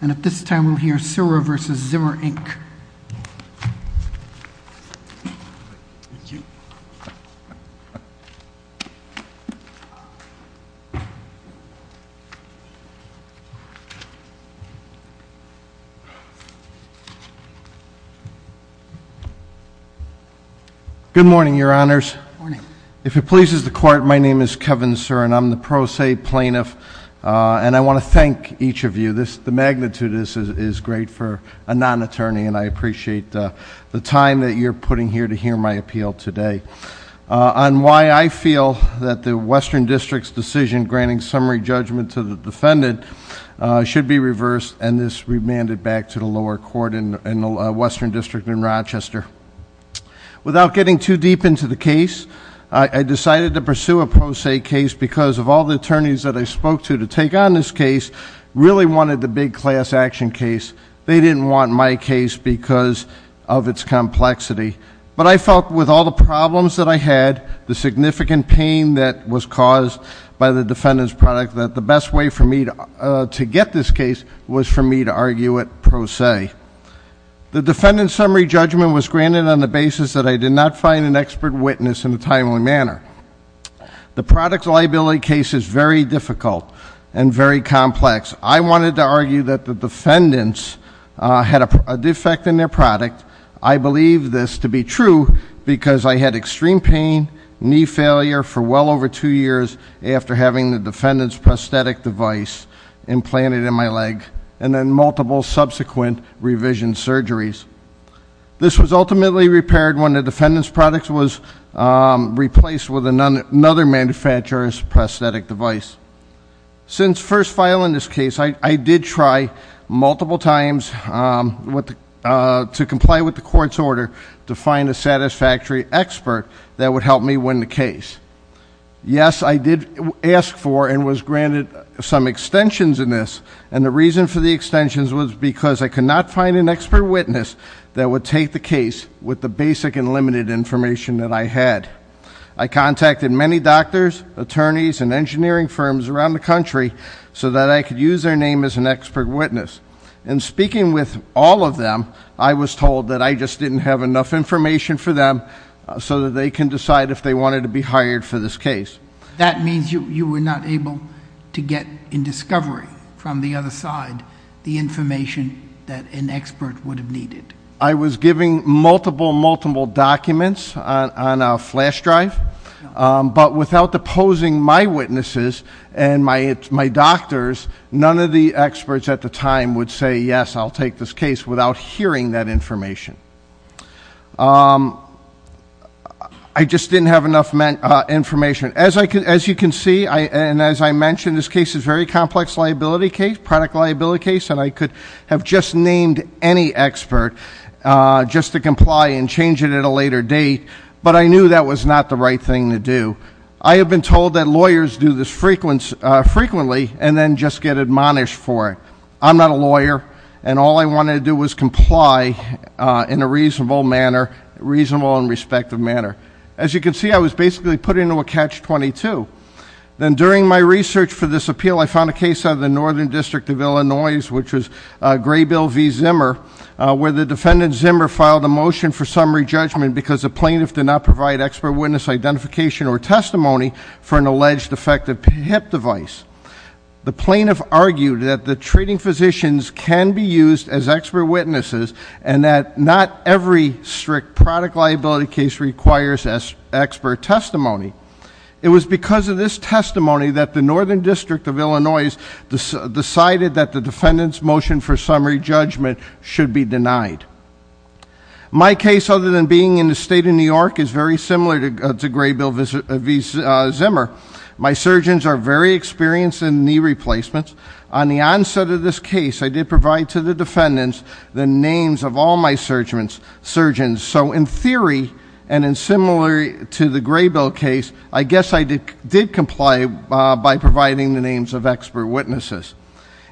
And at this time, we'll hear Sura v. Zimmer, Inc. Thank you. Good morning, Your Honors. Good morning. If it pleases the Court, my name is Kevin Surin. I'm the pro se plaintiff, and I want to thank each of you. The magnitude of this is great for a non-attorney, and I appreciate the time that you're putting here to hear my appeal today on why I feel that the Western District's decision granting summary judgment to the defendant should be reversed, and this remanded back to the lower court in the Western District in Rochester. Without getting too deep into the case, I decided to pursue a pro se case because of all the attorneys that I spoke to to take on this case really wanted the big class action case. They didn't want my case because of its complexity. But I felt with all the problems that I had, the significant pain that was caused by the defendant's product, that the best way for me to get this case was for me to argue it pro se. The defendant's summary judgment was granted on the basis that I did not find an expert witness in a timely manner. The product liability case is very difficult and very complex. I wanted to argue that the defendants had a defect in their product. I believe this to be true because I had extreme pain, knee failure for well over two years after having the defendant's prosthetic device implanted in my leg, and then multiple subsequent revision surgeries. This was ultimately repaired when the defendant's product was replaced with another manufacturer's prosthetic device. Since first filing this case, I did try multiple times to comply with the court's order to find a satisfactory expert that would help me win the case. Yes, I did ask for and was granted some extensions in this. And the reason for the extensions was because I could not find an expert witness that would take the case with the basic and limited information that I had. I contacted many doctors, attorneys, and engineering firms around the country so that I could use their name as an expert witness. In speaking with all of them, I was told that I just didn't have enough information for them so that they can decide if they wanted to be hired for this case. That means you were not able to get in discovery from the other side the information that an expert would have needed. I was giving multiple, multiple documents on a flash drive, but without deposing my witnesses and my doctors, none of the experts at the time would say, yes, I'll take this case without hearing that information. I just didn't have enough information. As you can see, and as I mentioned, this case is a very complex liability case, product liability case, and I could have just named any expert just to comply and change it at a later date, but I knew that was not the right thing to do. I have been told that lawyers do this frequently and then just get admonished for it. I'm not a lawyer, and all I wanted to do was comply in a reasonable manner, reasonable and respective manner. As you can see, I was basically put into a catch-22. Then during my research for this appeal, I found a case out of the Northern District of Illinois, which was Graybill v. Zimmer, where the defendant Zimmer filed a motion for summary judgment because the plaintiff did not provide expert witness identification or testimony for an alleged defective HIP device. The plaintiff argued that the treating physicians can be used as expert witnesses and that not every strict product liability case requires expert testimony. It was because of this testimony that the Northern District of Illinois decided that the defendant's motion for summary judgment should be denied. My case, other than being in the state of New York, is very similar to Graybill v. Zimmer. My surgeons are very experienced in knee replacements. On the onset of this case, I did provide to the defendants the names of all my surgeons. So in theory, and in similar to the Graybill case, I guess I did comply by providing the names of expert witnesses.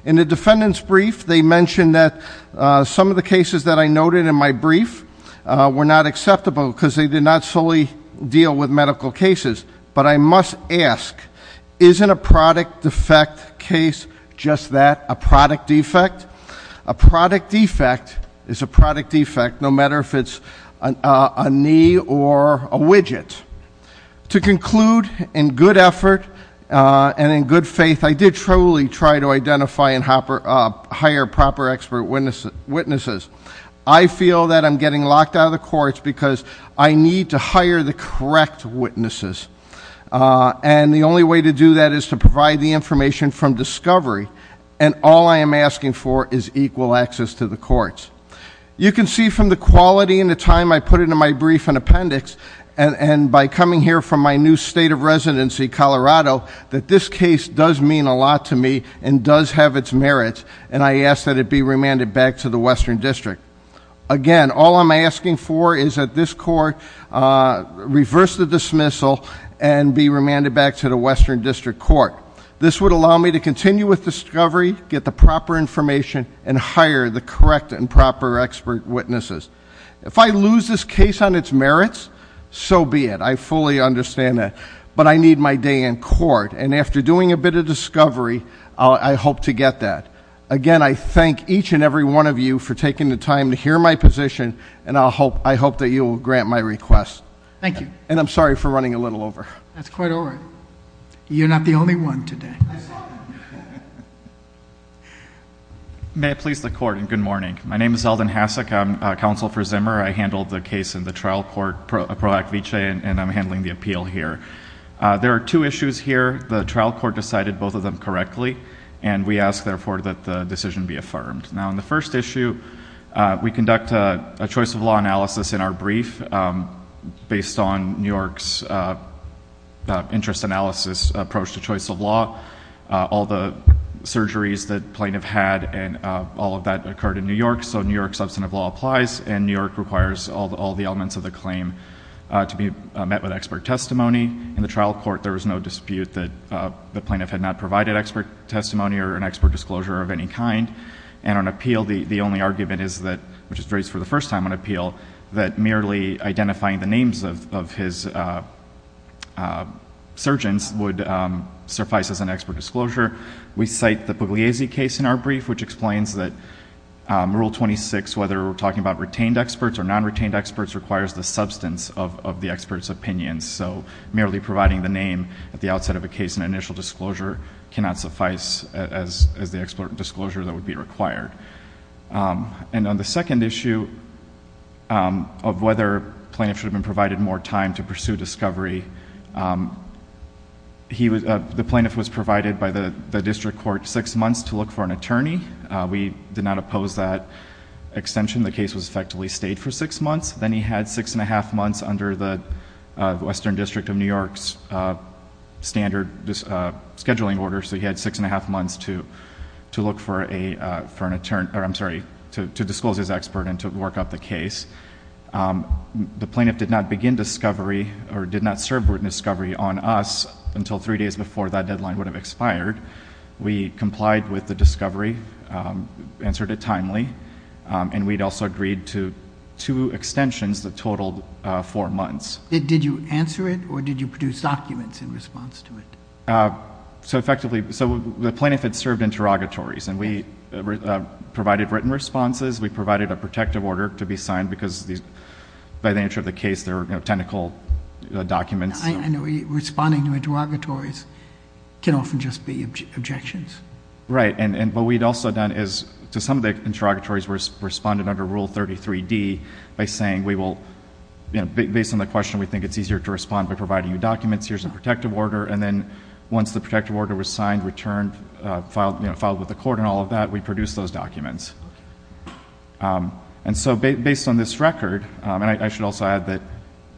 In the defendant's brief, they mentioned that some of the cases that I noted in my brief were not acceptable because they did not solely deal with medical cases. But I must ask, isn't a product defect case just that, a product defect? A product defect is a product defect, no matter if it's a knee or a widget. To conclude, in good effort and in good faith, I did truly try to identify and hire proper expert witnesses. I feel that I'm getting locked out of the courts because I need to hire the correct witnesses. And the only way to do that is to provide the information from discovery. And all I am asking for is equal access to the courts. You can see from the quality and the time I put into my brief and appendix, and by coming here from my new state of residency, Colorado, that this case does mean a lot to me and does have its merits. And I ask that it be remanded back to the Western District. Again, all I'm asking for is that this court reverse the dismissal and be remanded back to the Western District Court. This would allow me to continue with discovery, get the proper information, and hire the correct and proper expert witnesses. If I lose this case on its merits, so be it. I fully understand that. But I need my day in court. And after doing a bit of discovery, I hope to get that. Again, I thank each and every one of you for taking the time to hear my position. And I hope that you will grant my request. Thank you. And I'm sorry for running a little over. That's quite all right. You're not the only one today. I'm sorry. May it please the Court, and good morning. My name is Eldon Hasek. I'm counsel for Zimmer. I handled the case in the trial court, Pro Act Vice, and I'm handling the appeal here. There are two issues here. The trial court decided both of them correctly. And we ask, therefore, that the decision be affirmed. Now, on the first issue, we conduct a choice of law analysis in our brief based on New York's interest analysis approach to choice of law. All the surgeries that plaintiff had and all of that occurred in New York. So New York substantive law applies. And New York requires all the elements of the claim to be met with expert testimony. In the trial court, there was no dispute that the plaintiff had not provided expert testimony or an expert disclosure of any kind. And on appeal, the only argument is that, which is raised for the first time on appeal, that merely identifying the names of his surgeons would suffice as an expert disclosure. We cite the Pugliese case in our brief, which explains that Rule 26, whether we're talking about retained experts or non-retained experts, requires the substance of the expert's opinion. So merely providing the name at the outset of a case in initial disclosure cannot suffice as the expert disclosure that would be required. And on the second issue of whether plaintiff should have been provided more time to pursue discovery, the plaintiff was provided by the district court six months to look for an attorney. We did not oppose that extension. The case was effectively stayed for six months. Then he had six and a half months under the Western District of New York's standard scheduling order. So he had six and a half months to look for an attorney, or I'm sorry, to disclose his expert and to work up the case. The plaintiff did not begin discovery or did not serve discovery on us until three days before that deadline would have expired. We complied with the discovery, answered it timely, and we'd also agreed to two extensions that totaled four months. Did you answer it, or did you produce documents in response to it? So effectively, the plaintiff had served interrogatories, and we provided written responses. We provided a protective order to be signed because by the nature of the case, there were technical documents. I know responding to interrogatories can often just be objections. Right, and what we'd also done is to some of the interrogatories, we responded under Rule 33D by saying we will, based on the question, we think it's easier to respond by providing you documents. Here's a protective order. And then once the protective order was signed, returned, filed with the court and all of that, we produced those documents. And so based on this record, and I should also add that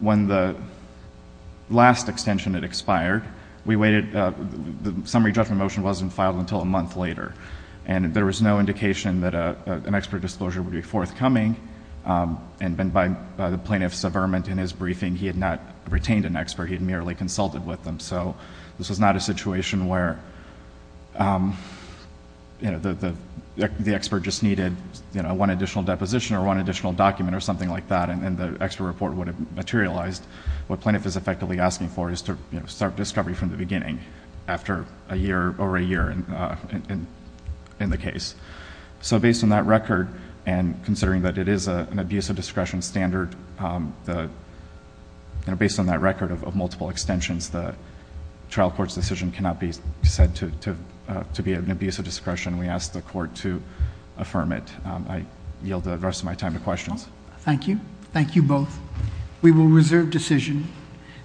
when the last extension had expired, we waited, the summary judgment motion wasn't filed until a month later, and there was no indication that an expert disclosure would be forthcoming. And by the plaintiff's averment in his briefing, he had not retained an expert. He had merely consulted with them. So this was not a situation where the expert just needed one additional deposition or one additional document or something like that, and the expert report would have materialized. What plaintiff is effectively asking for is to start discovery from the beginning after a year, over a year in the case. So based on that record, and considering that it is an abuse of discretion standard, based on that record of multiple extensions, the trial court's decision cannot be said to be an abuse of discretion. We ask the court to affirm it. I yield the rest of my time to questions. Thank you. Thank you both. We will reserve decision.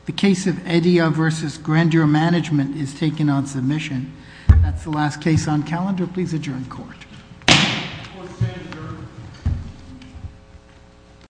The case of Eddia versus Grandeur Management is taken on submission. That's the last case on calendar. Please adjourn court.